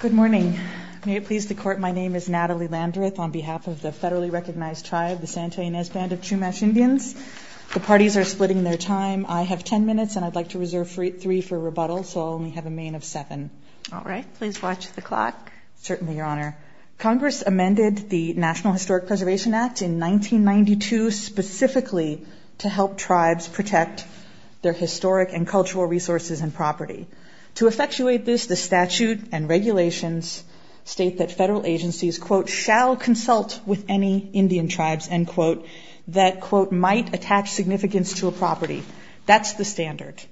Good morning. May it please the Court, my name is Natalie Landreth on behalf of the federally recognized tribe the Santa Ynez Band of Chumash Indians. The parties are splitting their time. I have ten minutes and I'd like to reserve three for rebuttal, so I'll only have a main of seven. All right, please watch the clock. Certainly, Your Honor. Congress amended the National Historic Preservation Act in 1992 specifically to help tribes protect their historic and cultural resources and property. To effectuate this, the statute and regulations state that federal agencies, quote, shall consult with any Indian tribes, end quote, that, quote, might attach significance to a property. That's the standard.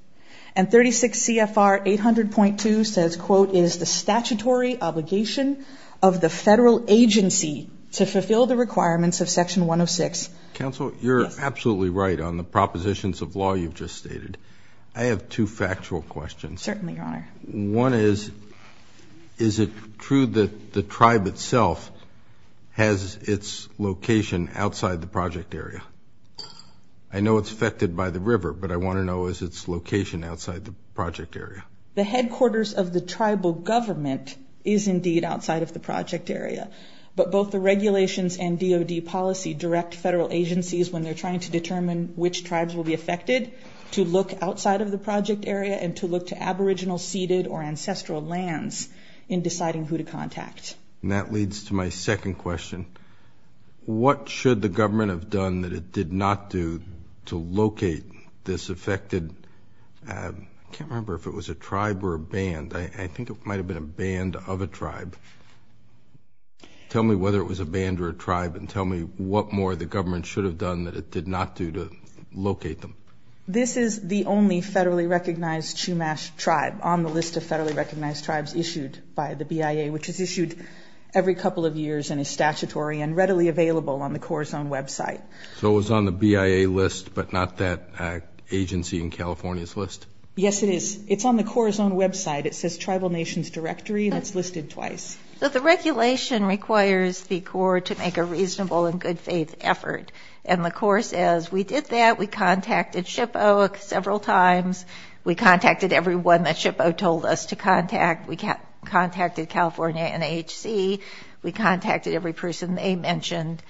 And 36 C.F.R. 800.2 says, quote, is the statutory obligation of the federal agency to fulfill the requirements of law you've just stated. I have two factual questions. Certainly, Your Honor. One is, is it true that the tribe itself has its location outside the project area? I know it's affected by the river, but I want to know is its location outside the project area? The headquarters of the tribal government is indeed outside of the project area, but both the regulations and DOD policy direct federal agencies when they're trying to determine which tribes will be affected to look outside of the project area and to look to aboriginal, ceded, or ancestral lands in deciding who to contact. And that leads to my second question. What should the government have done that it did not do to locate this affected... I can't remember if it was a tribe or a band. I think it might have been a band of a tribe. Tell me whether it was a band or a tribe and tell me what more the government should have done that it did not do to locate them. This is the only federally recognized Chumash tribe on the list of federally recognized tribes issued by the BIA, which is issued every couple of years and is statutory and readily available on the Corps' own website. So it was on the BIA list but not that agency in California's list? Yes, it is. It's on the Corps' own website. It says Tribal Nations Directory and it's listed twice. The regulation requires the Corps to make a reasonable and good-faith effort and the Corps says we did that. We contacted SHPO several times. We contacted everyone that SHPO told us to contact. We contacted California NHC. We contacted every person they mentioned.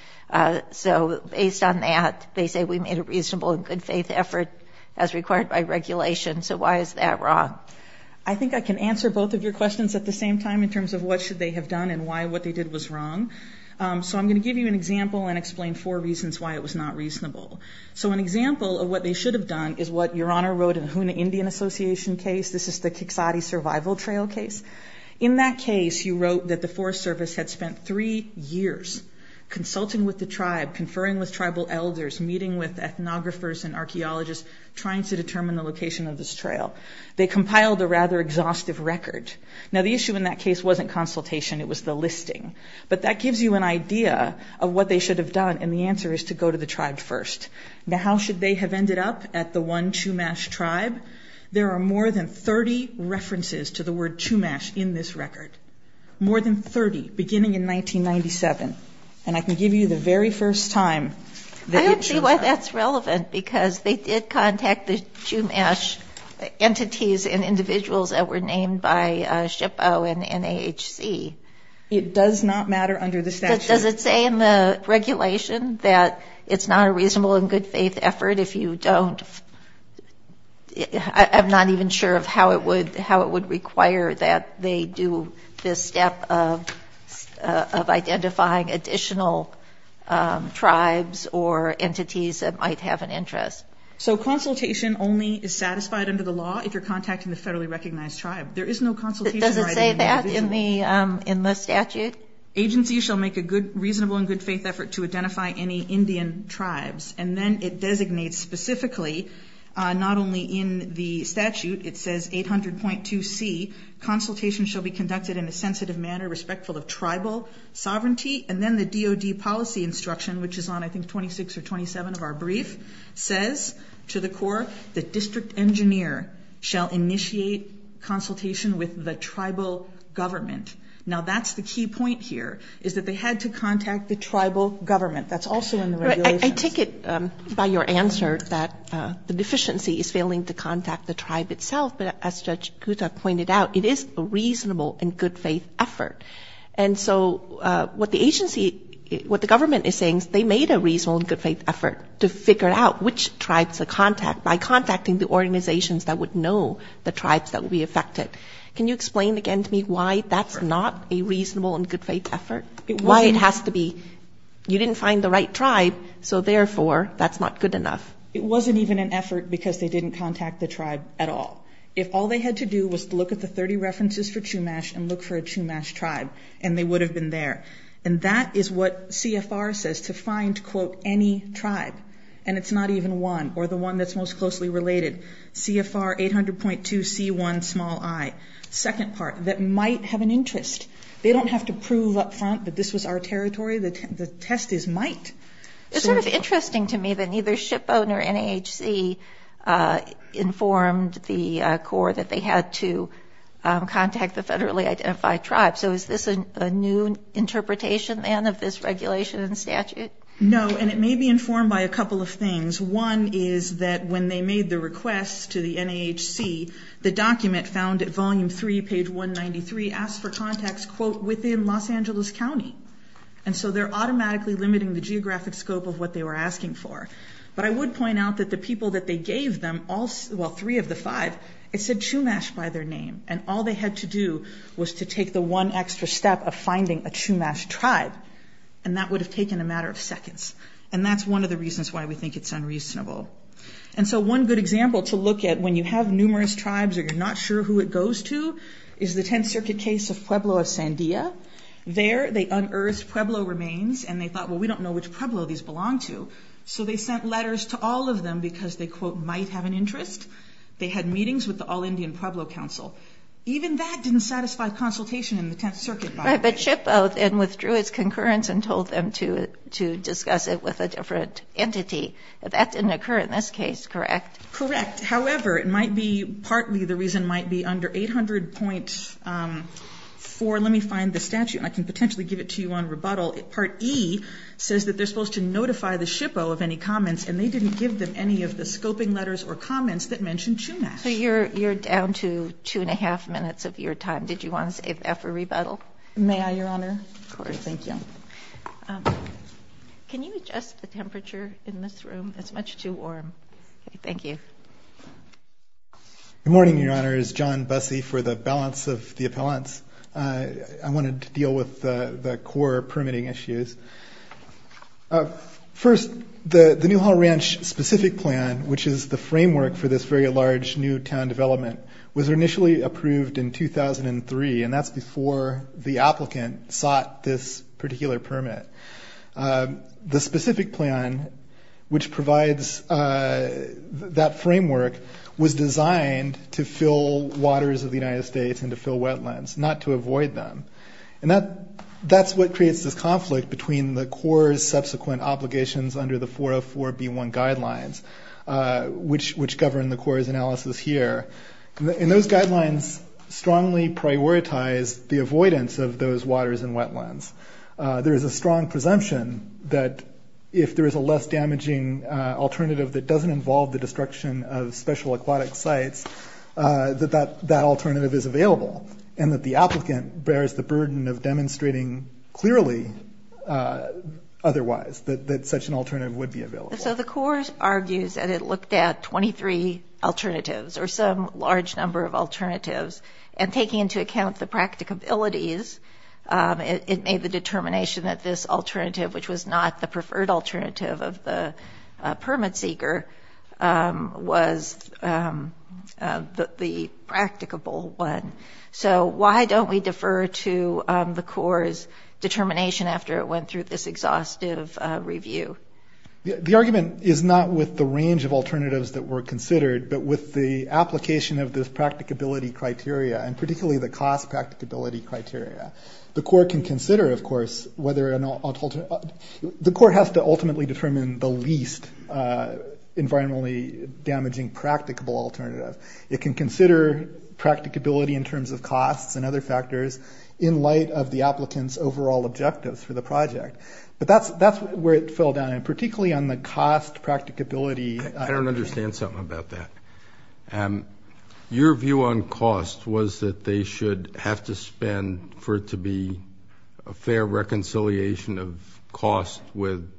So based on that, they say we made a reasonable and good-faith effort as required by regulation. So why is that wrong? I think I can answer both of your questions at the same time in terms of what should they have done and why what they did was wrong. So I'm going to give you an example and explain four reasons why it was not reasonable. So an example of what they should have done is what Your Honor wrote in the Hoonah Indian Association case. This is the Kiksati Survival Trail case. In that case, you wrote that the Forest Service had spent three years consulting with the tribe, conferring with tribal elders, meeting with ethnographers and archaeologists trying to determine the location of this trail. They compiled a rather exhaustive record. Now the issue in that case wasn't consultation, it was the listing. But that gives you an idea of what they should have done and the answer is to go to the tribe first. Now how should they have ended up at the one Chumash tribe? There are more than 30 references to the word Chumash in this record. More than 30 beginning in 1997. And I can give you the very first time. I don't see why that's relevant because they did contact the Chumash entities and individuals that were named by SHPO and NAHC. It does not matter under the statute. Does it say in the regulation that it's not a reasonable and good-faith effort if you don't... I'm not even sure of how it would require that they do this step of identifying additional tribes or entities that might have an interest. So consultation only is satisfied under the law if you're contacting the federally recognized tribe. There is no consultation... Does it say that in the statute? Agencies shall make a good reasonable and good-faith effort to identify any Indian tribes. And then it designates specifically not only in the statute, it says 800.2C, consultation shall be conducted in a sensitive manner respectful of tribal sovereignty. And then the DOD policy instruction, which is on I think 26 or 27 of our brief, says to the Corps, the district engineer shall initiate consultation with the tribal government. Now that's the key point here, is that they had to contact the tribal government. That's also in the regulations. I take it by your answer that the deficiency is failing to contact the tribe itself, but as Judge Gutta pointed out, it is a reasonable and good-faith effort. And so what the agency, what the government is saying is they made a reasonable and good-faith effort to figure out which tribes to contact by the tribes that will be affected. Can you explain again to me why that's not a reasonable and good-faith effort? Why it has to be... You didn't find the right tribe, so therefore that's not good enough. It wasn't even an effort because they didn't contact the tribe at all. If all they had to do was to look at the 30 references for Chumash and look for a Chumash tribe, and they would have been there. And that is what CFR says to find, quote, any tribe. And it's not even one, or the one that's most closely related. CFR 800.2C1i. Second part, that might have an interest. They don't have to prove up front that this was our territory. The test is might. It's sort of interesting to me that neither SHPO nor NAHC informed the Corps that they had to contact the federally identified tribes. So is this a new interpretation then of this regulation and statute? No, and it may be informed by a couple of things. One is that when they made the request to the NAHC, the document found at volume 3, page 193, asks for contacts, quote, within Los Angeles County. And so they're automatically limiting the geographic scope of what they were asking for. But I would point out that the people that they gave them, all three of the five, it said Chumash by their name. And all they had to do was to take the one extra step of finding a tribe within 30 seconds. And that's one of the reasons why we think it's unreasonable. And so one good example to look at when you have numerous tribes or you're not sure who it goes to is the Tenth Circuit case of Pueblo of Sandia. There, they unearthed Pueblo remains and they thought, well, we don't know which Pueblo these belong to. So they sent letters to all of them because they, quote, might have an interest. They had meetings with the All-Indian Pueblo Council. Even that didn't satisfy consultation in the Tenth Circuit. But SHPO then withdrew its concurrence and told them to discuss it with a different entity. That didn't occur in this case, correct? Correct. However, it might be partly the reason might be under 800.4, let me find the statute. I can potentially give it to you on rebuttal. Part E says that they're supposed to notify the SHPO of any comments and they didn't give them any of the scoping letters or comments that mentioned Chumash. So you're down to two and a half minutes of your time. Did you want to say F for May I, Your Honor? Of course. Thank you. Can you adjust the temperature in this room? It's much too warm. Thank you. Good morning, Your Honor. It's John Busse for the balance of the appellants. I wanted to deal with the core permitting issues. First, the Newhall Ranch specific plan, which is the framework for this very large new town development, was initially approved in 2003. And that's before the applicant sought this particular permit. The specific plan, which provides that framework, was designed to fill waters of the United States and to fill wetlands, not to avoid them. And that's what creates this conflict between the core's subsequent obligations under the 404B1 guidelines, which govern the core's analysis here. And those guidelines strongly prioritize the avoidance of those waters and wetlands. There is a strong presumption that if there is a less damaging alternative that doesn't involve the destruction of special aquatic sites, that that alternative is available. And that the applicant bears the burden of demonstrating clearly otherwise, that such an alternative would be available. So the core argues that it looked at 23 alternatives or some large number of alternatives and taking into account the practicabilities, it made the determination that this alternative, which was not the preferred alternative of the permit seeker, was the practicable one. So why don't we defer to the core's determination after it went through this exhaustive review? The argument is not with the range of alternatives that were considered, but with the application of this practicability criteria, and particularly the cost practicability criteria. The core can consider, of course, whether an alternative... The core has to ultimately determine the least environmentally damaging practicable alternative. It can consider practicability in terms of costs and other factors in light of the applicant's overall objectives for the project. But that's where it fell down, and particularly on the cost practicability... I don't understand something about that. Your view on cost was that they should have to spend for it to be a fair reconciliation of cost with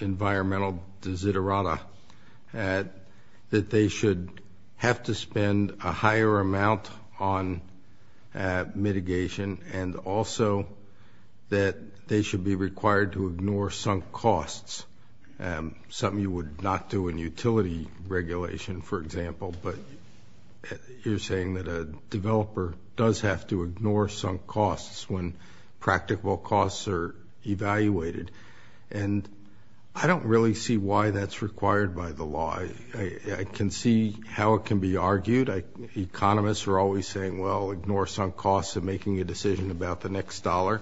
environmental desiderata, that they should have to spend a higher amount on mitigation, and also that they should be required to ignore sunk costs. Something you would not do in utility regulation, for example, but you're saying that a developer does have to ignore sunk costs when practical costs are evaluated. And I don't really see why that's required by the law. I can see how it can be argued. Economists are always saying, well, ignore sunk costs of making a decision about the next dollar,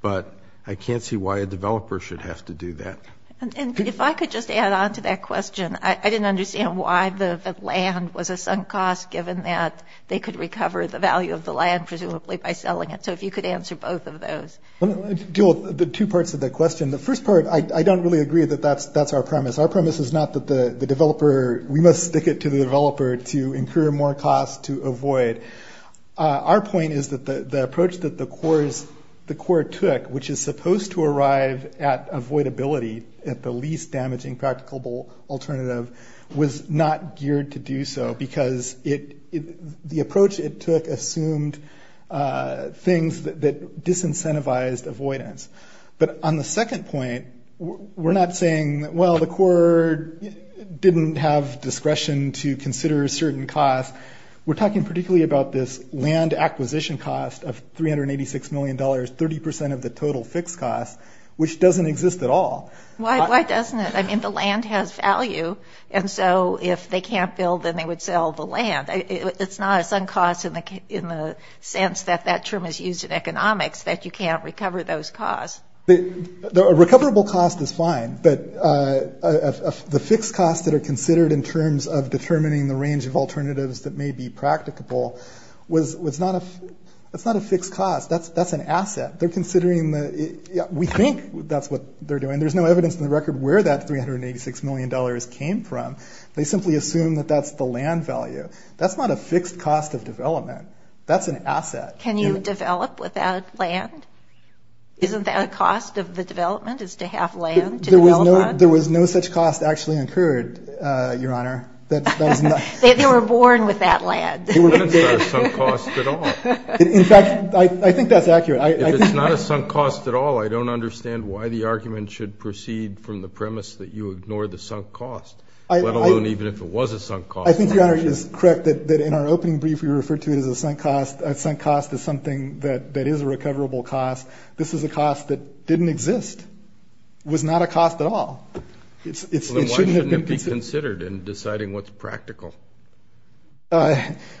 but I can't see why a developer should have to do that. And if I could just add on to that question, I didn't understand why the land was a sunk cost, given that they could recover the value of the land, presumably by selling it. So if you could answer both of those. Let me deal with the two parts of the question. The first part, I don't really agree that that's our premise. Our premise is not that the developer... We must stick it to the developer to incur more costs to avoid. Our point is that the approach that the Corps took, which is supposed to arrive at avoidability at the least damaging practicable alternative, was not geared to do so because the approach it took assumed things that disincentivized avoidance. But on the second point, we're not saying, well, the Corps didn't have discretion to consider a certain cost. We're talking particularly about this land acquisition cost of $386 million, 30% of the total fixed cost, which doesn't exist at all. Why doesn't it? I mean, the land has value, and so if they can't build, then they would sell the land. It's not a sunk cost in the sense that that term is used in economics, that you can't recover those costs. A recoverable cost is fine, but the fixed costs that are considered in terms of determining the range of alternatives that may be practicable was... It's not a fixed cost. That's an asset. They're considering the... We think that's what they're doing. There's no evidence in the record where that $386 million came from. They simply assume that that's the land value. That's not a fixed cost of development. That's an asset. Can you develop without land? Isn't that a cost of the development, is to have land to develop on? There was no such cost actually incurred, Your Honor. That is not... They were born with that land. They weren't a sunk cost at all. In fact, I think that's accurate. If it's not a sunk cost at all, I don't understand why the argument should proceed from the premise that you ignore the sunk cost, let alone even if it was a sunk cost. I think, Your Honor, it is correct that in our opening brief, we referred to it as a sunk cost. A sunk cost is something that is a recoverable cost. This is a cost that didn't exist. It was not a cost at all. Then why shouldn't it be considered in deciding what's practical?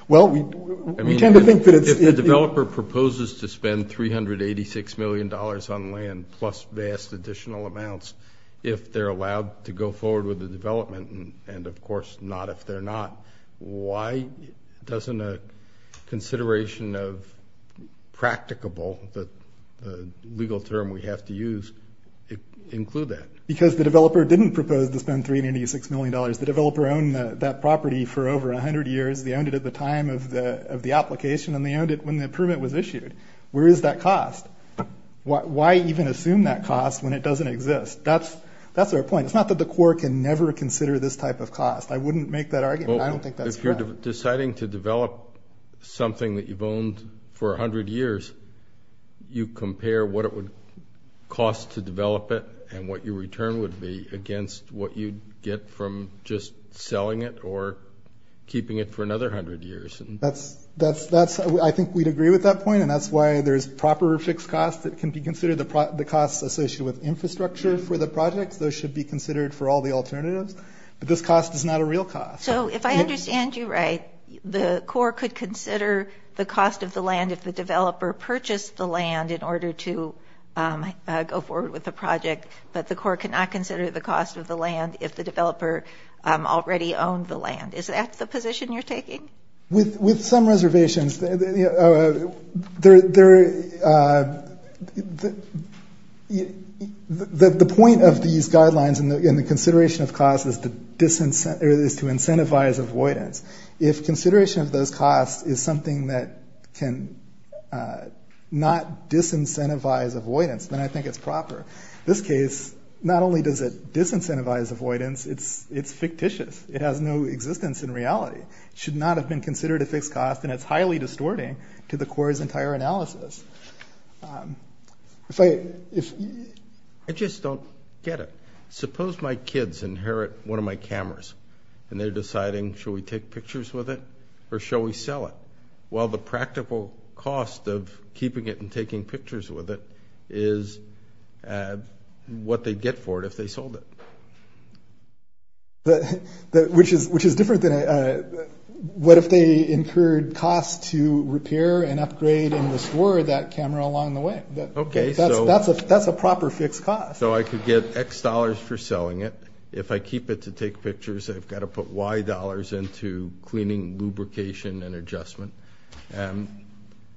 Well, we tend to think that it's... If the developer proposes to spend $386 million on land plus vast additional amounts, if they're allowed to go forward with the development, and of course not if they're not, why doesn't a consideration of practicable, the legal term we have to use, include that? Because the developer didn't propose to spend $386 million. The developer owned that property for over 100 years. They owned it at the time of the application, and they owned it when the permit was issued. Where is that cost? Why even assume that cost when it doesn't exist? That's our point. It's not that the court can never consider this type of cost. I wouldn't make that argument. I don't think that's correct. Well, if you're deciding to develop something that you've owned for 100 years, you compare what it would cost to develop it and what your return would be against what you'd get from just selling it or keeping it for another 100 years. That's... I think we'd agree with that point, and that's why there's proper fixed costs that can be considered the costs associated with infrastructure for the projects. Those should be considered for all the alternatives. But this cost is not a real cost. So if I understand you right, the court could consider the cost of the land if the developer purchased the land in order to go forward with the project, but the court cannot consider the cost of the land if the developer already owned the land. Is that the position you're taking? With some reservations. The point of these guidelines in the consideration of cost is to incentivize avoidance. If consideration of those costs is something that can not disincentivize avoidance, then I think it's proper. This case, not only does it disincentivize avoidance, it's fictitious. It has no existence in reality. It should not have been considered a fixed cost, and it's highly distorting to the court's entire analysis. I just don't get it. Suppose my kids inherit one of my cameras, and they're deciding, shall we take pictures with it or shall we sell it? Well, the practical cost of keeping it and taking pictures with it is what they'd get for it if they sold it. Which is different than... What if they incurred costs to repair and upgrade and restore that camera along the way? That's a proper fixed cost. So I could get X dollars for selling it. If I keep it to take pictures, I've gotta put Y dollars into cleaning, lubrication, and adjustment.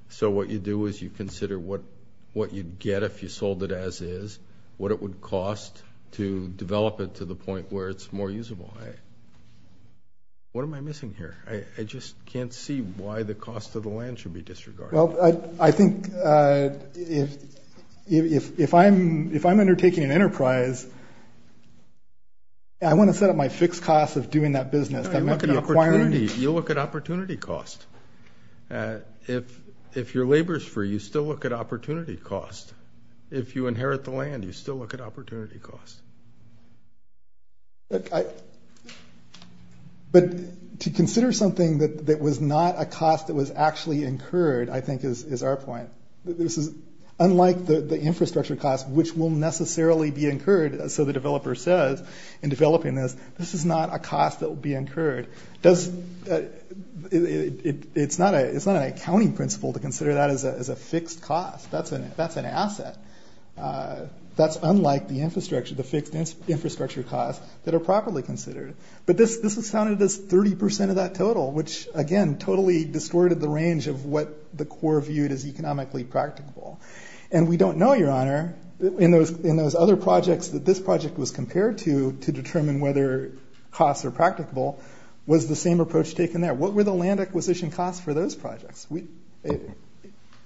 So what you do is you consider what you'd get if you sold it as is, what it would cost to develop it to the point where it's more usable. What am I missing here? I just can't see why the cost of the land should be disregarded. Well, I think if I'm undertaking an enterprise, I wanna set up my fixed cost of doing that business. I'm not gonna acquire any... You look at opportunity cost. If your labor's free, you still look at opportunity cost. If you inherit the land, you still look at opportunity cost. But to consider something that was not a cost that was actually incurred, I think is our point. This is unlike the infrastructure cost, which will necessarily be incurred. So the developer says in developing this, this is not a cost that will be incurred. It's not an accounting principle to consider that as a fixed cost. That's an asset. That's unlike the infrastructure, the fixed infrastructure costs that are properly considered. But this was counted as 30% of that total, which again, totally distorted the range of what the Corps viewed as economically practicable. And we don't know, Your Honor, in those other projects that this project was compared to, to determine whether costs are practicable, was the same approach taken there. What were the land acquisition costs for those projects?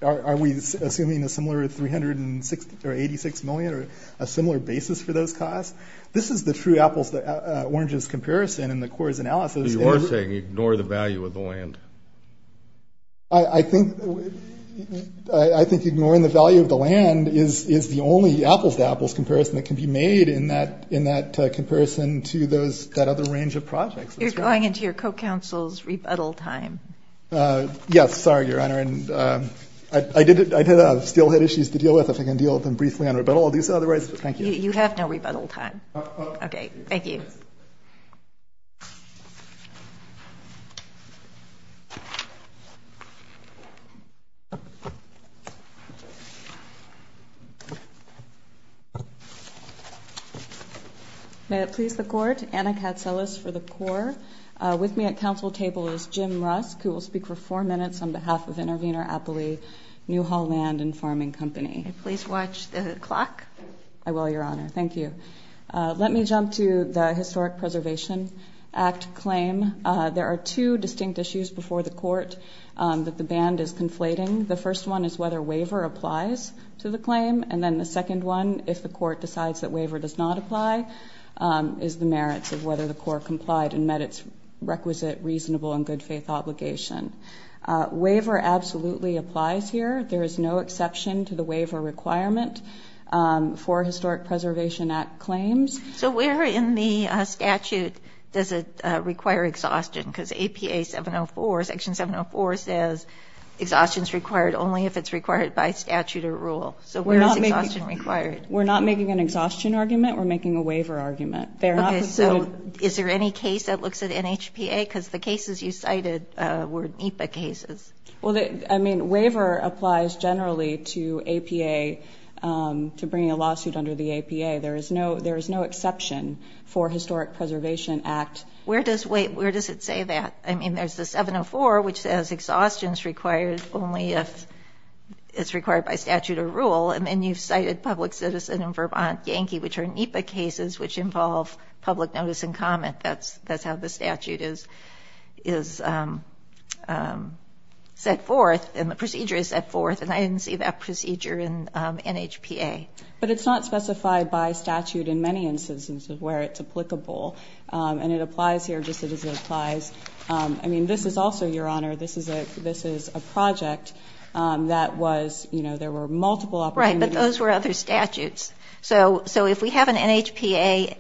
Are we assuming a similar 386 million or a similar basis for those costs? This is the true apples to oranges comparison in the Corps' analysis. You are saying, ignore the value of the land. I think ignoring the value of the land is the only apples to apples comparison that can be made in that, in that comparison to those, that other range of projects. You're going into your co-counsel's rebuttal time. Yes. Sorry, Your Honor. And I did, I did still had issues to deal with if I can deal with them briefly on rebuttal. I'll do so otherwise. Thank you. You have no rebuttal time. Okay. Thank you. May it please the Court, Anna Katselis for the Corps. With me at council table is Jim Rusk, who will speak for four minutes on behalf of Intervenor Appley, Newhall Land and Farming Company. May I please watch the clock? I will, Your Honor. Thank you. Let me jump to the Historic Preservation Act claim. There are two distinct issues before the Court that the band is conflating. The first one is whether waiver applies to the claim. And then the second one, if the Court decides that waiver does not apply, is the merits of whether the Corps complied and met its requisite, reasonable and good faith obligation. Waiver absolutely applies here. There is no exception to the waiver requirement for Historic Preservation Act claims. So where in the statute does it require exhaustion? Because APA 704, Section 704 says exhaustion's required only if it's required by statute or rule. So where is exhaustion required? We're not making an exhaustion argument, we're making a waiver argument. Okay, so is there any case that looks at NHPA? Because the cases you cited were NEPA cases. Well, I mean, waiver applies generally to APA, to bringing a lawsuit under the APA. There is no exception for Historic Preservation Act. Where does it say that? I mean, there's the 704, which says exhaustion's required only if it's required by statute or rule. And then you've cited public citizen in Vermont, Yankee, which are NEPA cases which involve public notice and comment. That's how the statute is set forth and the procedure is set forth. And I didn't see that procedure in NHPA. But it's not specified by statute in many instances where it's applicable. And it applies here just as it applies... I mean, this is also, Your Honor, this is a project that was... There were multiple opportunities. Right, but those were other statutes. So if we have an NHPA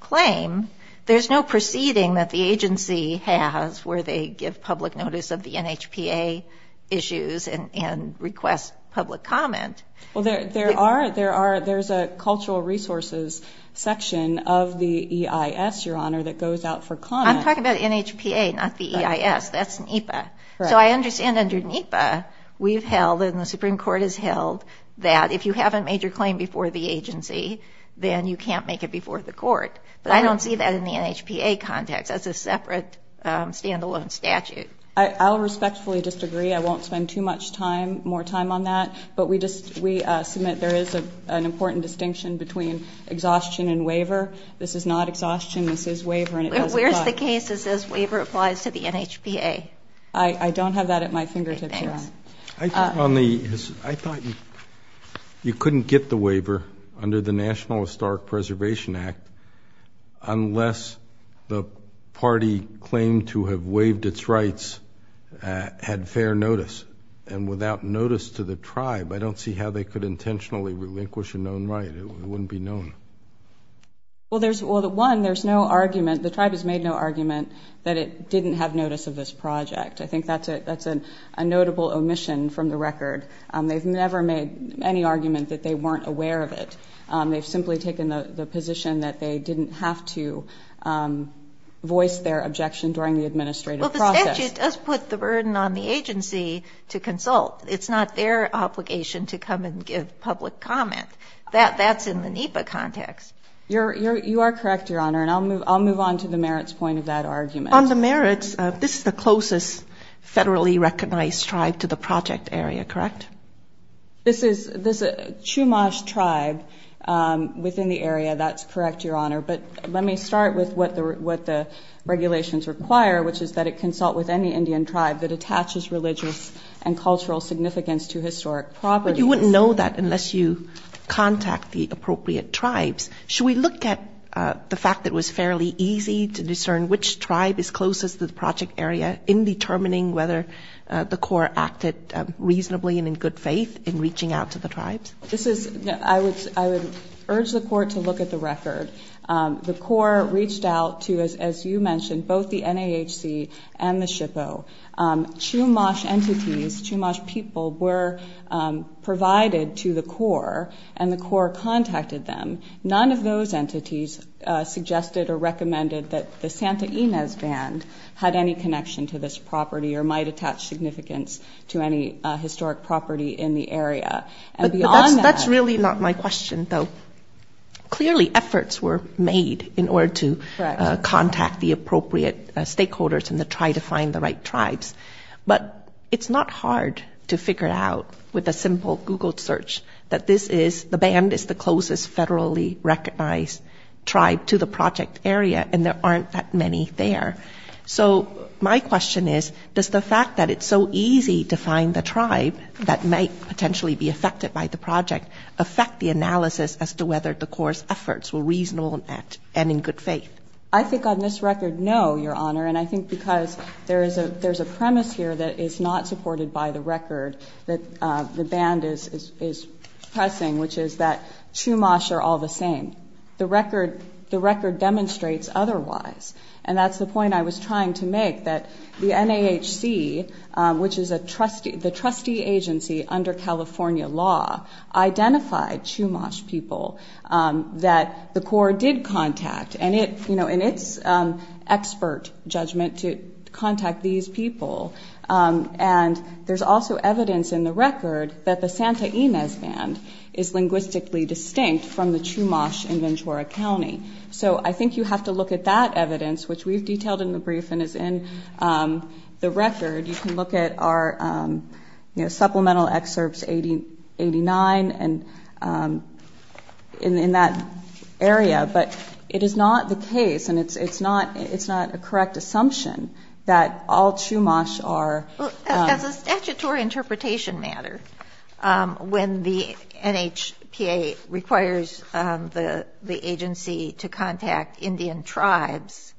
claim, there's no proceeding that the agency has where they give public notice of the NHPA issues and request public comment. Well, there's a cultural resources section of the EIS, Your Honor, that goes out for comment. I'm talking about NHPA, not the EIS. That's NEPA. So I understand under NEPA, we've held, and the Supreme Court has held, that if you haven't made your claim before the agency, then you can't make it before the court. But I don't see that in the NHPA context. That's a separate, standalone statute. I'll respectfully just agree. I won't spend too much time, more time on that. But we submit there is an important distinction between exhaustion and waiver. This is not exhaustion, this is waiver, and it doesn't apply... Where's the case that says waiver applies to the NHPA? I don't have that at my fingertips, Your Honor. Okay, thanks. I thought you couldn't get the waiver under the National Historic Preservation Act unless the party claimed to have waived its rights had fair notice. And without notice to the tribe, I don't see how they could intentionally relinquish a known right. It wouldn't be known. Well, one, there's no argument, the tribe has made no argument that it didn't have notice of this project. I think that's a notable omission from the record. They've never made any argument that they weren't aware of it. They've simply taken the position that they didn't have to voice their objection during the administrative process. Well, the statute does put the burden on the agency to consult. It's not their obligation to come and give public comment. That's in the NHPA context. You are correct, Your Honor, and I'll move on to the merits point of that argument. On the merits, this is the closest federally recognized tribe to the project area, correct? This is a Chumash tribe within the area, that's correct, Your Honor. But let me start with what the regulations require, which is that it consult with any Indian tribe that attaches religious and religious... But you wouldn't know that unless you contact the appropriate tribes. Should we look at the fact that it was fairly easy to discern which tribe is closest to the project area in determining whether the court acted reasonably and in good faith in reaching out to the tribes? This is... I would urge the court to look at the record. The court reached out to, as you mentioned, both the NAHC and the NAHC, provided to the core, and the core contacted them. None of those entities suggested or recommended that the Santa Ynez band had any connection to this property or might attach significance to any historic property in the area. And beyond that... That's really not my question, though. Clearly, efforts were made in order to contact the appropriate stakeholders and to try to find the right tribes. But it's not hard to do a simple Google search that this is... The band is the closest federally recognized tribe to the project area, and there aren't that many there. So my question is, does the fact that it's so easy to find the tribe that might potentially be affected by the project affect the analysis as to whether the core's efforts were reasonable and in good faith? I think on this record, no, Your Honor. And I think because there's a premise here that is not supported by the record that the band is pressing, which is that Chumash are all the same. The record demonstrates otherwise. And that's the point I was trying to make, that the NAHC, which is the trustee agency under California law, identified Chumash people that the core did contact. And it's expert judgment to contact these people. And there's also evidence in the record that the Santa Ynez band is linguistically distinct from the Chumash in Ventura County. So I think you have to look at that evidence, which we've detailed in the brief and is in the record. You can look at our supplemental excerpts 89 in that area. But it is not the case, and it's not a correct assumption, that all Chumash are... As a statutory interpretation matter, when the NHPA requires the agency to contact Indian tribes,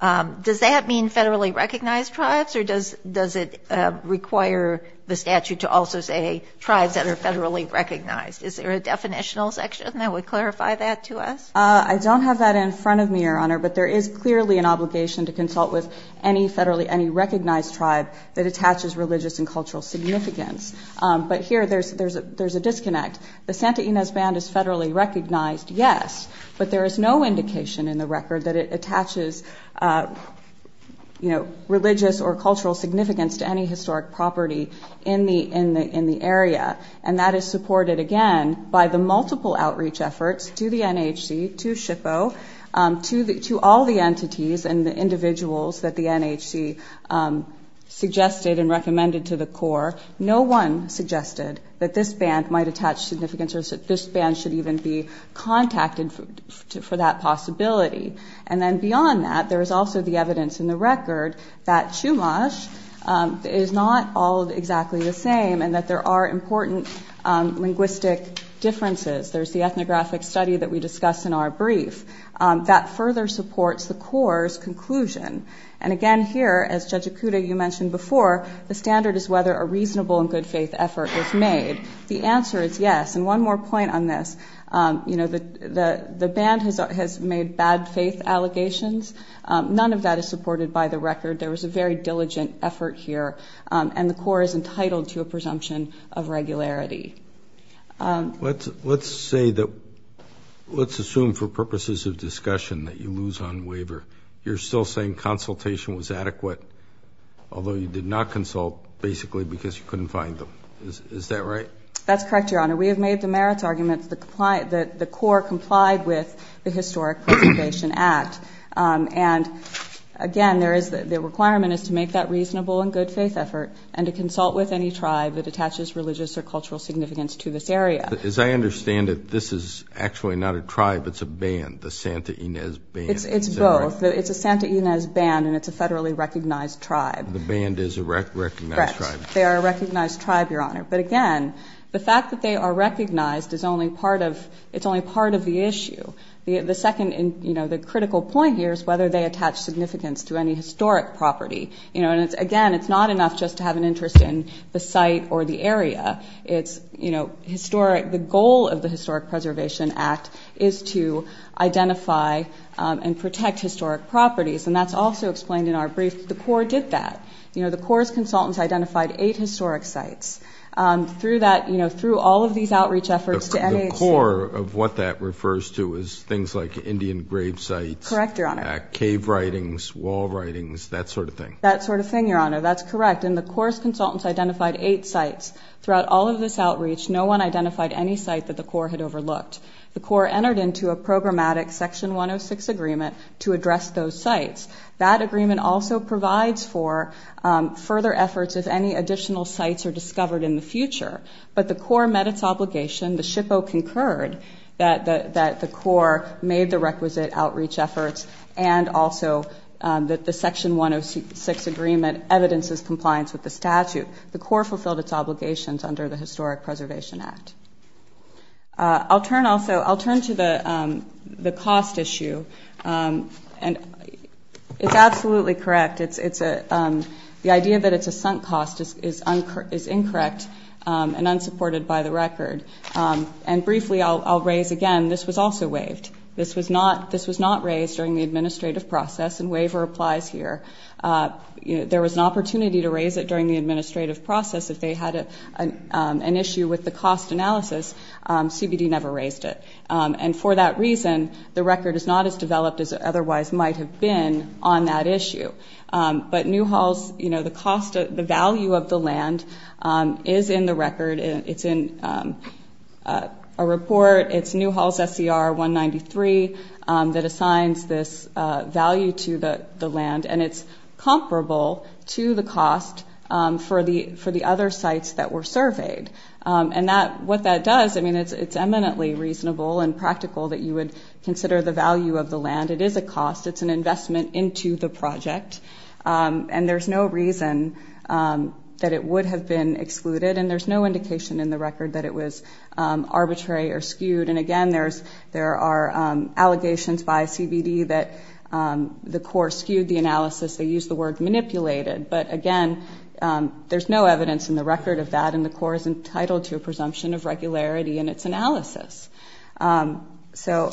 does that mean federally recognized tribes or does it require the statute to also say tribes that are federally recognized? Is there a definitional section that would clarify that to us? I don't have that in front of me, Your Honor, but there is clearly an obligation to consult with any federally... Any recognized tribe that attaches religious and cultural significance. But here, there's a disconnect. The Santa Ynez band is federally recognized, yes, but there is no indication in the record that it attaches religious or cultural significance to any historic property in the area. And that is supported, again, by the multiple outreach efforts to the NHC, to SHPO, to all the entities and the individuals that the NHC suggested and recommended to the Corps. No one suggested that this band might attach significance or that this band should even be contacted for that possibility. And then beyond that, there is also the evidence in the record that Chumash is not all exactly the same and that there are important linguistic differences. There's the ethnographic study that we discussed in our brief. That further supports the Corps' conclusion. And again, here, as Judge Ikuda, you mentioned before, the standard is whether a reasonable and good faith effort was made. The answer is yes. And one more point on this. The band has made bad faith allegations. None of that is supported by the record. There was a very diligent effort here. And the Corps is entitled to a presumption of regularity. Let's say that... Let's assume for purposes of discussion that you lose on waiver. You're still saying consultation was adequate, although you did not consult basically because you couldn't find them. Is that right? That's correct, Your Honor. We have made the merits arguments that the Corps complied with the Historic Preservation Act. And again, there is... The requirement is to make that reasonable and good faith effort and to consult with any tribe that attaches religious or cultural significance to this area. As I understand it, this is actually not a tribe, it's a band, the Santa Ynez Band. It's both. It's a Santa Ynez Band and it's a federally recognized tribe. The band is a recognized tribe? Correct. They are a recognized tribe, Your Honor. But again, the fact that they are recognized is only part of... It's only part of the issue. The second... The critical point here is whether they attach significance to any historic property. And again, it's not enough just to have an interest in the site or the area. It's historic... The goal of the Historic Preservation Act is to identify and protect historic properties. And that's also explained in our brief. The Corps did that. The Corps' consultants identified eight historic sites. Through that... Through all of these outreach efforts to things like Indian grave sites... Correct, Your Honor. Cave writings, wall writings, that sort of thing. That sort of thing, Your Honor. That's correct. And the Corps' consultants identified eight sites. Throughout all of this outreach, no one identified any site that the Corps had overlooked. The Corps entered into a programmatic Section 106 agreement to address those sites. That agreement also provides for further efforts if any additional sites are discovered in the future. But the Corps met its obligation. The SHPO concurred that the Corps made the requisite outreach efforts and also that the Section 106 agreement evidences compliance with the statute. The Corps fulfilled its obligations under the Historic Preservation Act. I'll turn also... I'll turn to the cost issue. And it's absolutely correct. It's... The idea that it's a sunk cost is incorrect and unsupported by the record. And briefly, I'll raise again, this was also waived. This was not raised during the administrative process, and waiver applies here. There was an opportunity to raise it during the administrative process if they had an issue with the cost analysis. CBD never raised it. And for that reason, the record is not as developed as it otherwise might have been on that issue. But New Hall's... The cost... The value of the land is in the record. It's in a report. It's New Hall's SCR 193 that assigns this value to the land, and it's comparable to the cost for the other sites that were surveyed. And that... What that does, I mean, it's eminently reasonable and practical that you would consider the site. And there's no reason that it would have been excluded, and there's no indication in the record that it was arbitrary or skewed. And again, there are allegations by CBD that the Corps skewed the analysis. They used the word manipulated. But again, there's no evidence in the record of that, and the Corps is entitled to a presumption of regularity in its analysis. So,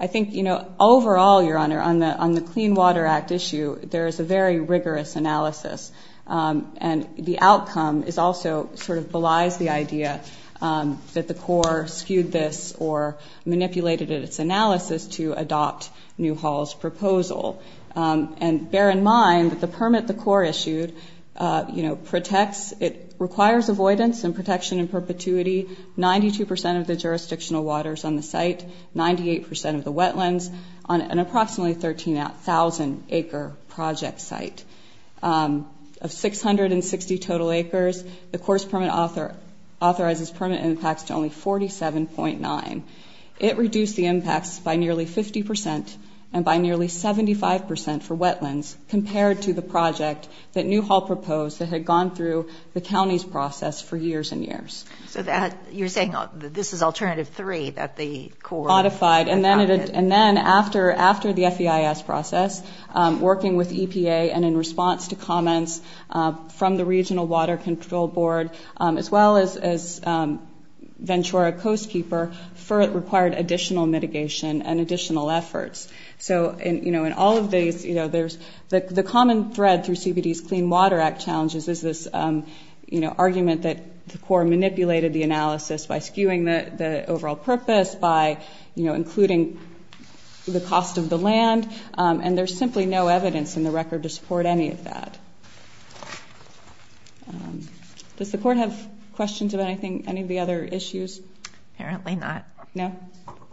I think, overall, Your Honor, on the Clean Water Act issue, there is a very rigorous analysis. And the outcome is also... Belies the idea that the Corps skewed this or manipulated its analysis to adopt New Hall's proposal. And bear in mind that the permit the Corps issued protects... It requires avoidance and protection in perpetuity, 92% of the jurisdictional waters on the site, 98% of the wetlands on an approximately 13,000 acre project site. Of 660 total acres, the Corps' permit authorizes permit impacts to only 47.9. It reduced the impacts by nearly 50% and by nearly 75% for wetlands compared to the project that New Hall proposed that had gone through the county's process for years and years. So, you're saying that this is alternative three that the Corps... Modified, and then after the FEIS process, working with EPA and in response to comments from the Regional Water Control Board, as well as Ventura Coast Keeper, required additional mitigation and additional efforts. So, in all of these, there's... The common thread through CBD's Clean Water Act challenges is this argument that the Corps manipulated the analysis by skewing the overall purpose, by including the cost of the land, and there's simply no evidence in the record to support any of that. Does the Court have questions about any of the other issues? Apparently not. No?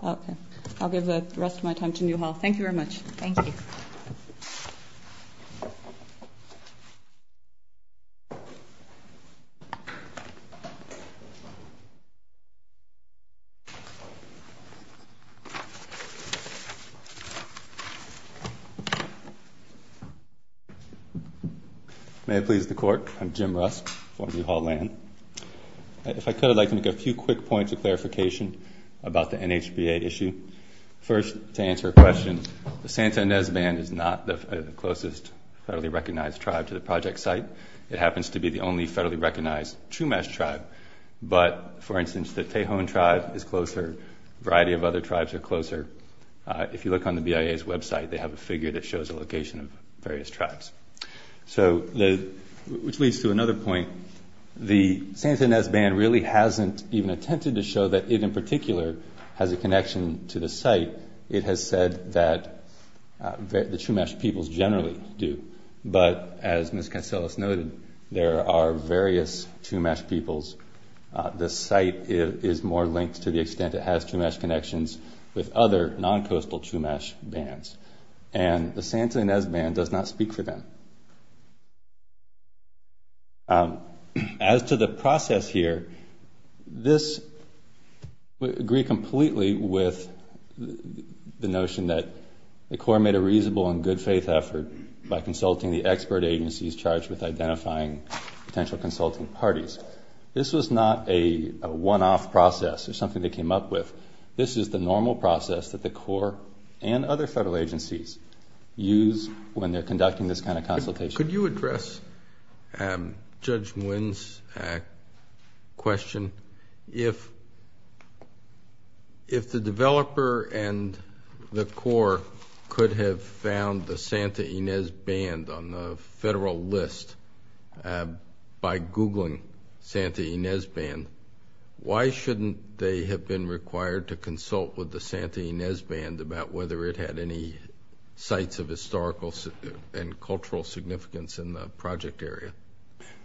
Okay. I'll give the rest of my time to New Hall. Thank you very much. Thank you. May it please the Court. I'm Jim Rusk for New Hall Land. If I could, I'd like to make a few quick points of clarification about the NHBA issue. First, to answer a question, the Santa Ynez Band is the closest federally recognized tribe to the project site. It happens to be the only federally recognized Chumash tribe, but for instance, the Tejon tribe is closer. A variety of other tribes are closer. If you look on the BIA's website, they have a figure that shows a location of various tribes. So, which leads to another point. The Santa Ynez Band really hasn't even attempted to show that it, in particular, has a connection to the site. It has said that the Chumash peoples generally do, but as Ms. Katsilas noted, there are various Chumash peoples. The site is more linked to the extent it has Chumash connections with other non-coastal Chumash bands, and the Santa Ynez Band does not speak for them. As to the process here, this would agree completely with the notion that the Court made a reasonable and good-faith effort by consulting the expert agencies charged with identifying potential consulting parties. This was not a one-off process or something they came up with. This is the normal process that the Court and other federal agencies use when they're conducting this kind of consultation. Could you address Judge Nguyen's question? If the developer and the Corps could have found the Santa Ynez Band on the federal list by googling Santa Ynez Band, why shouldn't they have been required to consult with the Santa Ynez Band about whether it had any sites of historical and cultural significance in the project area?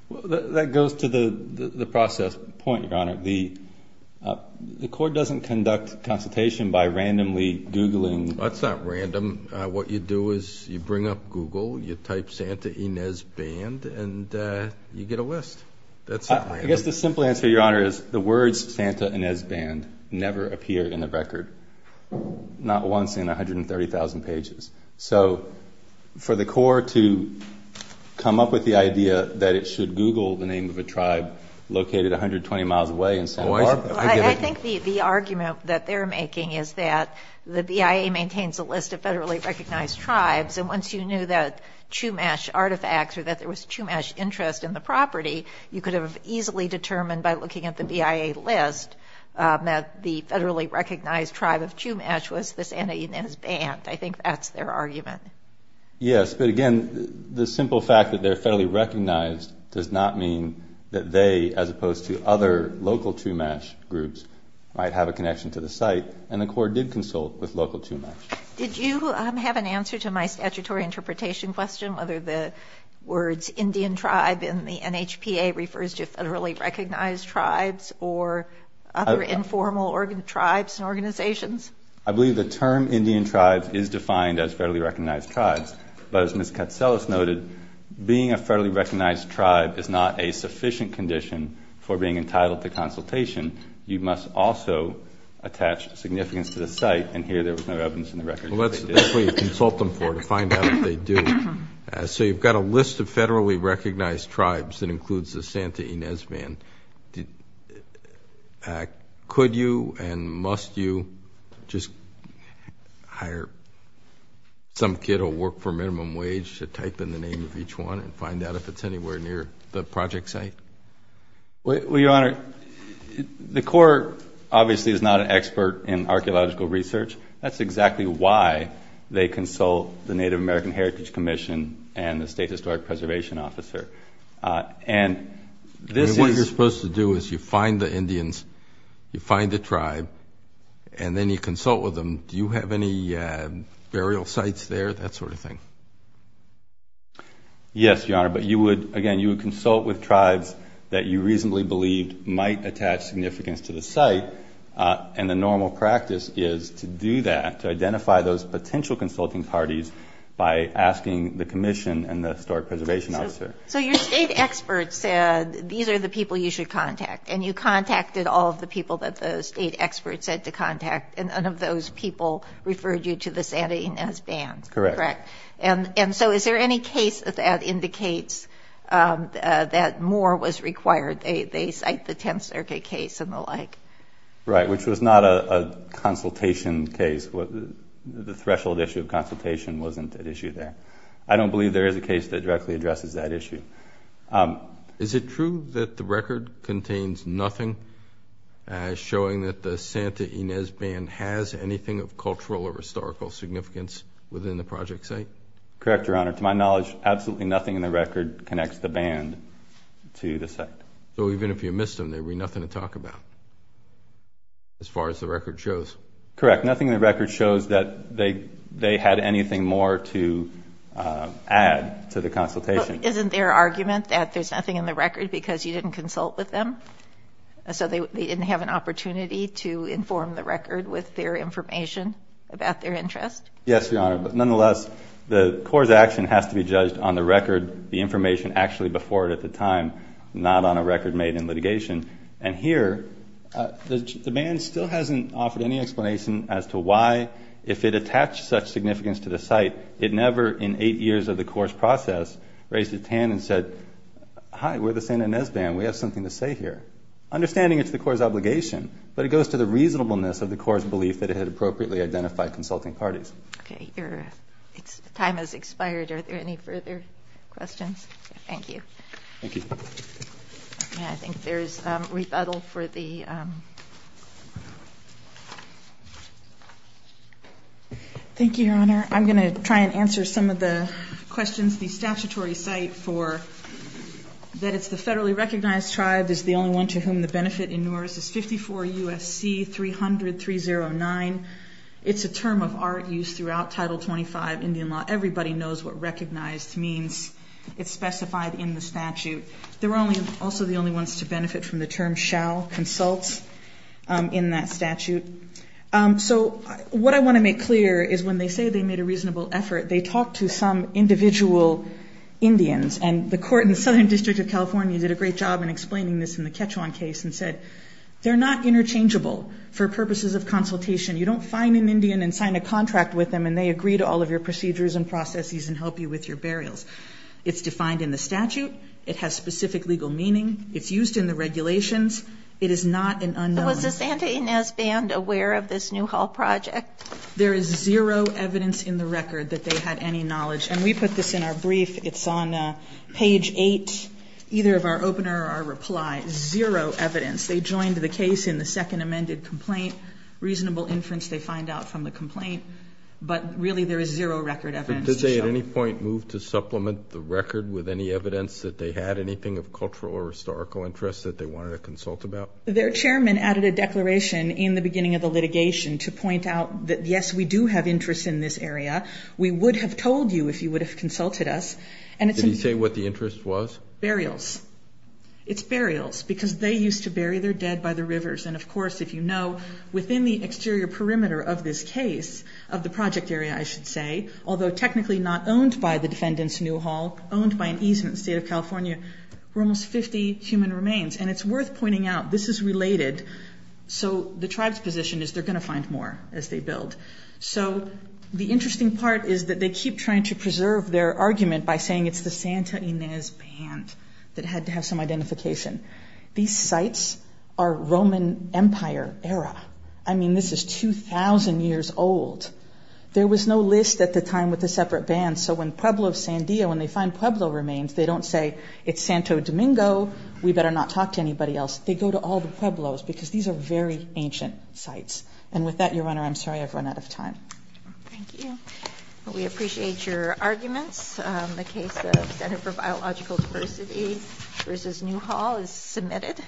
Well, that goes to the process point, Your Honor. The Corps doesn't conduct consultation by randomly googling... That's not random. What you do is you bring up Google, you type Santa Ynez Band, and you get a list. I guess the simple answer, Your Honor, is the words Santa Ynez Band never appear in the record, not once in 130,000 pages. So for the Corps to come up with the idea that it should Google the name of a tribe located 120 miles away in Santa Barbara... I think the argument that they're making is that the BIA maintains a list of federally recognized tribes, and once you knew that Chumash artifacts or that there was Chumash interest in the property, you could have easily determined by looking at the BIA list that the federally recognized tribe of Chumash was the Santa Ynez Band. I guess, but again, the simple fact that they're federally recognized does not mean that they, as opposed to other local Chumash groups, might have a connection to the site, and the Corps did consult with local Chumash. Did you have an answer to my statutory interpretation question, whether the words Indian tribe in the NHPA refers to federally recognized tribes or other informal tribes and organizations? I believe the term Indian tribes is defined as federally recognized. And as Ms. Katselos noted, being a federally recognized tribe is not a sufficient condition for being entitled to consultation. You must also attach significance to the site, and here there was no evidence in the record that it is. Well, that's what you consult them for, to find out if they do. So you've got a list of federally recognized tribes that includes the Santa Ynez Band. Could you and must you just hire some kid who will work for minimum wage to type in the name of each one and find out if it's anywhere near the project site? Well, Your Honor, the Corps, obviously, is not an expert in archaeological research. That's exactly why they consult the Native American Heritage Commission and the State Historic Preservation Officer. And this is... What you're supposed to do is you find the tribe, and then you consult with them. Do you have any burial sites there, that sort of thing? Yes, Your Honor, but you would, again, you would consult with tribes that you reasonably believed might attach significance to the site, and the normal practice is to do that, to identify those potential consulting parties by asking the Commission and the Historic Preservation Officer. So your state experts said these are the people you should contact, and you contacted all the people that the state experts said to contact, and none of those people referred you to the Santa Ynez Band? Correct. And so is there any case that indicates that more was required? They cite the Tenth Circuit case and the like. Right, which was not a consultation case. The threshold issue of consultation wasn't at issue there. I don't believe there is a case that directly addresses that issue. Is it true that the record contains nothing showing that the Santa Ynez Band has anything of cultural or historical significance within the project site? Correct, Your Honor. To my knowledge, absolutely nothing in the record connects the band to the site. So even if you missed them, there would be nothing to talk about, as far as the record shows? Correct. Nothing in the record shows that they had anything more to add to the consultation. Isn't there argument that there's nothing in the record because you didn't consult with them? So they didn't have an opportunity to inform the record with their information about their interest? Yes, Your Honor. But nonetheless, the Corps' action has to be judged on the record, the information actually before it at the time, not on a record made in litigation. And here, the band still hasn't offered any explanation as to why, if it attached such significance to the site, it never, in eight years of the Corps' process, raised its hand and said, Hi, we're the Santa Ynez Band. We have something to say here. Understanding it's the Corps' obligation, but it goes to the reasonableness of the Corps' belief that it had appropriately identified consulting parties. Okay. Your time has expired. Are there any further questions? Thank you. Thank you. I think there's rebuttal for the... Thank you, Your Honor. I'm going to try and answer some of the questions. The statutory site for that it's the federally recognized tribe is the only one to whom the benefit in NORS is 54 U.S.C. 300309. It's a term of art used throughout Title 25 Indian law. Everybody knows what recognized means. It's specified in the statute. They're only also the only ones to benefit from the term shall consult in that statute. So what I want to make clear is when they say they made a reasonable effort, they talked to some individual Indians. And the court in the Southern District of California did a great job in explaining this in the Quechuan case and said, They're not interchangeable for purposes of consultation. You don't find an Indian and sign a contract with them and they agree to all of your procedures and processes and help you with your burials. It's defined in the statute. It has specific legal meaning. It's used in the regulations. It is not an unknown. Was the Santa Ynez Band aware of this Newhall project? There is zero evidence in the record that they had any knowledge. And we put this in our brief. It's on page eight, either of our opener or our reply. Zero evidence. They joined the case in the second amended complaint. Reasonable inference they find out from the complaint. But really, there is zero record evidence. Did they at any point move to supplement the record with any evidence that they had anything of cultural or historical interest that they wanted to consult about? Their chairman added a declaration in the beginning of the litigation to point out that, Yes, we do have interest in this area. We would have told you if you would have consulted us. Did he say what the interest was? Burials. It's burials because they used to bury their dead by the rivers. And of course, if you know, within the exterior perimeter of this case, of the project area, I should say, although technically not owned by the defendants, Newhall, owned by an easement in the state of California, were almost 50 human remains. And it's worth pointing out this is related. So the tribe's position is they're going to find more as they build. So the interesting part is that they keep trying to preserve their argument by saying it's the Santa Ynez band that had to have some identification. These sites are Roman Empire era. I mean, this is 2000 years old. There was no list at the time with a separate band. So when Pueblo of Sandia, when they find Pueblo remains, they don't say it's Santo Domingo. We better not talk to anybody else. They go to all the Pueblos because these are very ancient sites. And with that, Your Honor, I'm sorry I've run out of time. Thank you. We appreciate your arguments. The case of Center for Biological Diversity versus Newhall is submitted.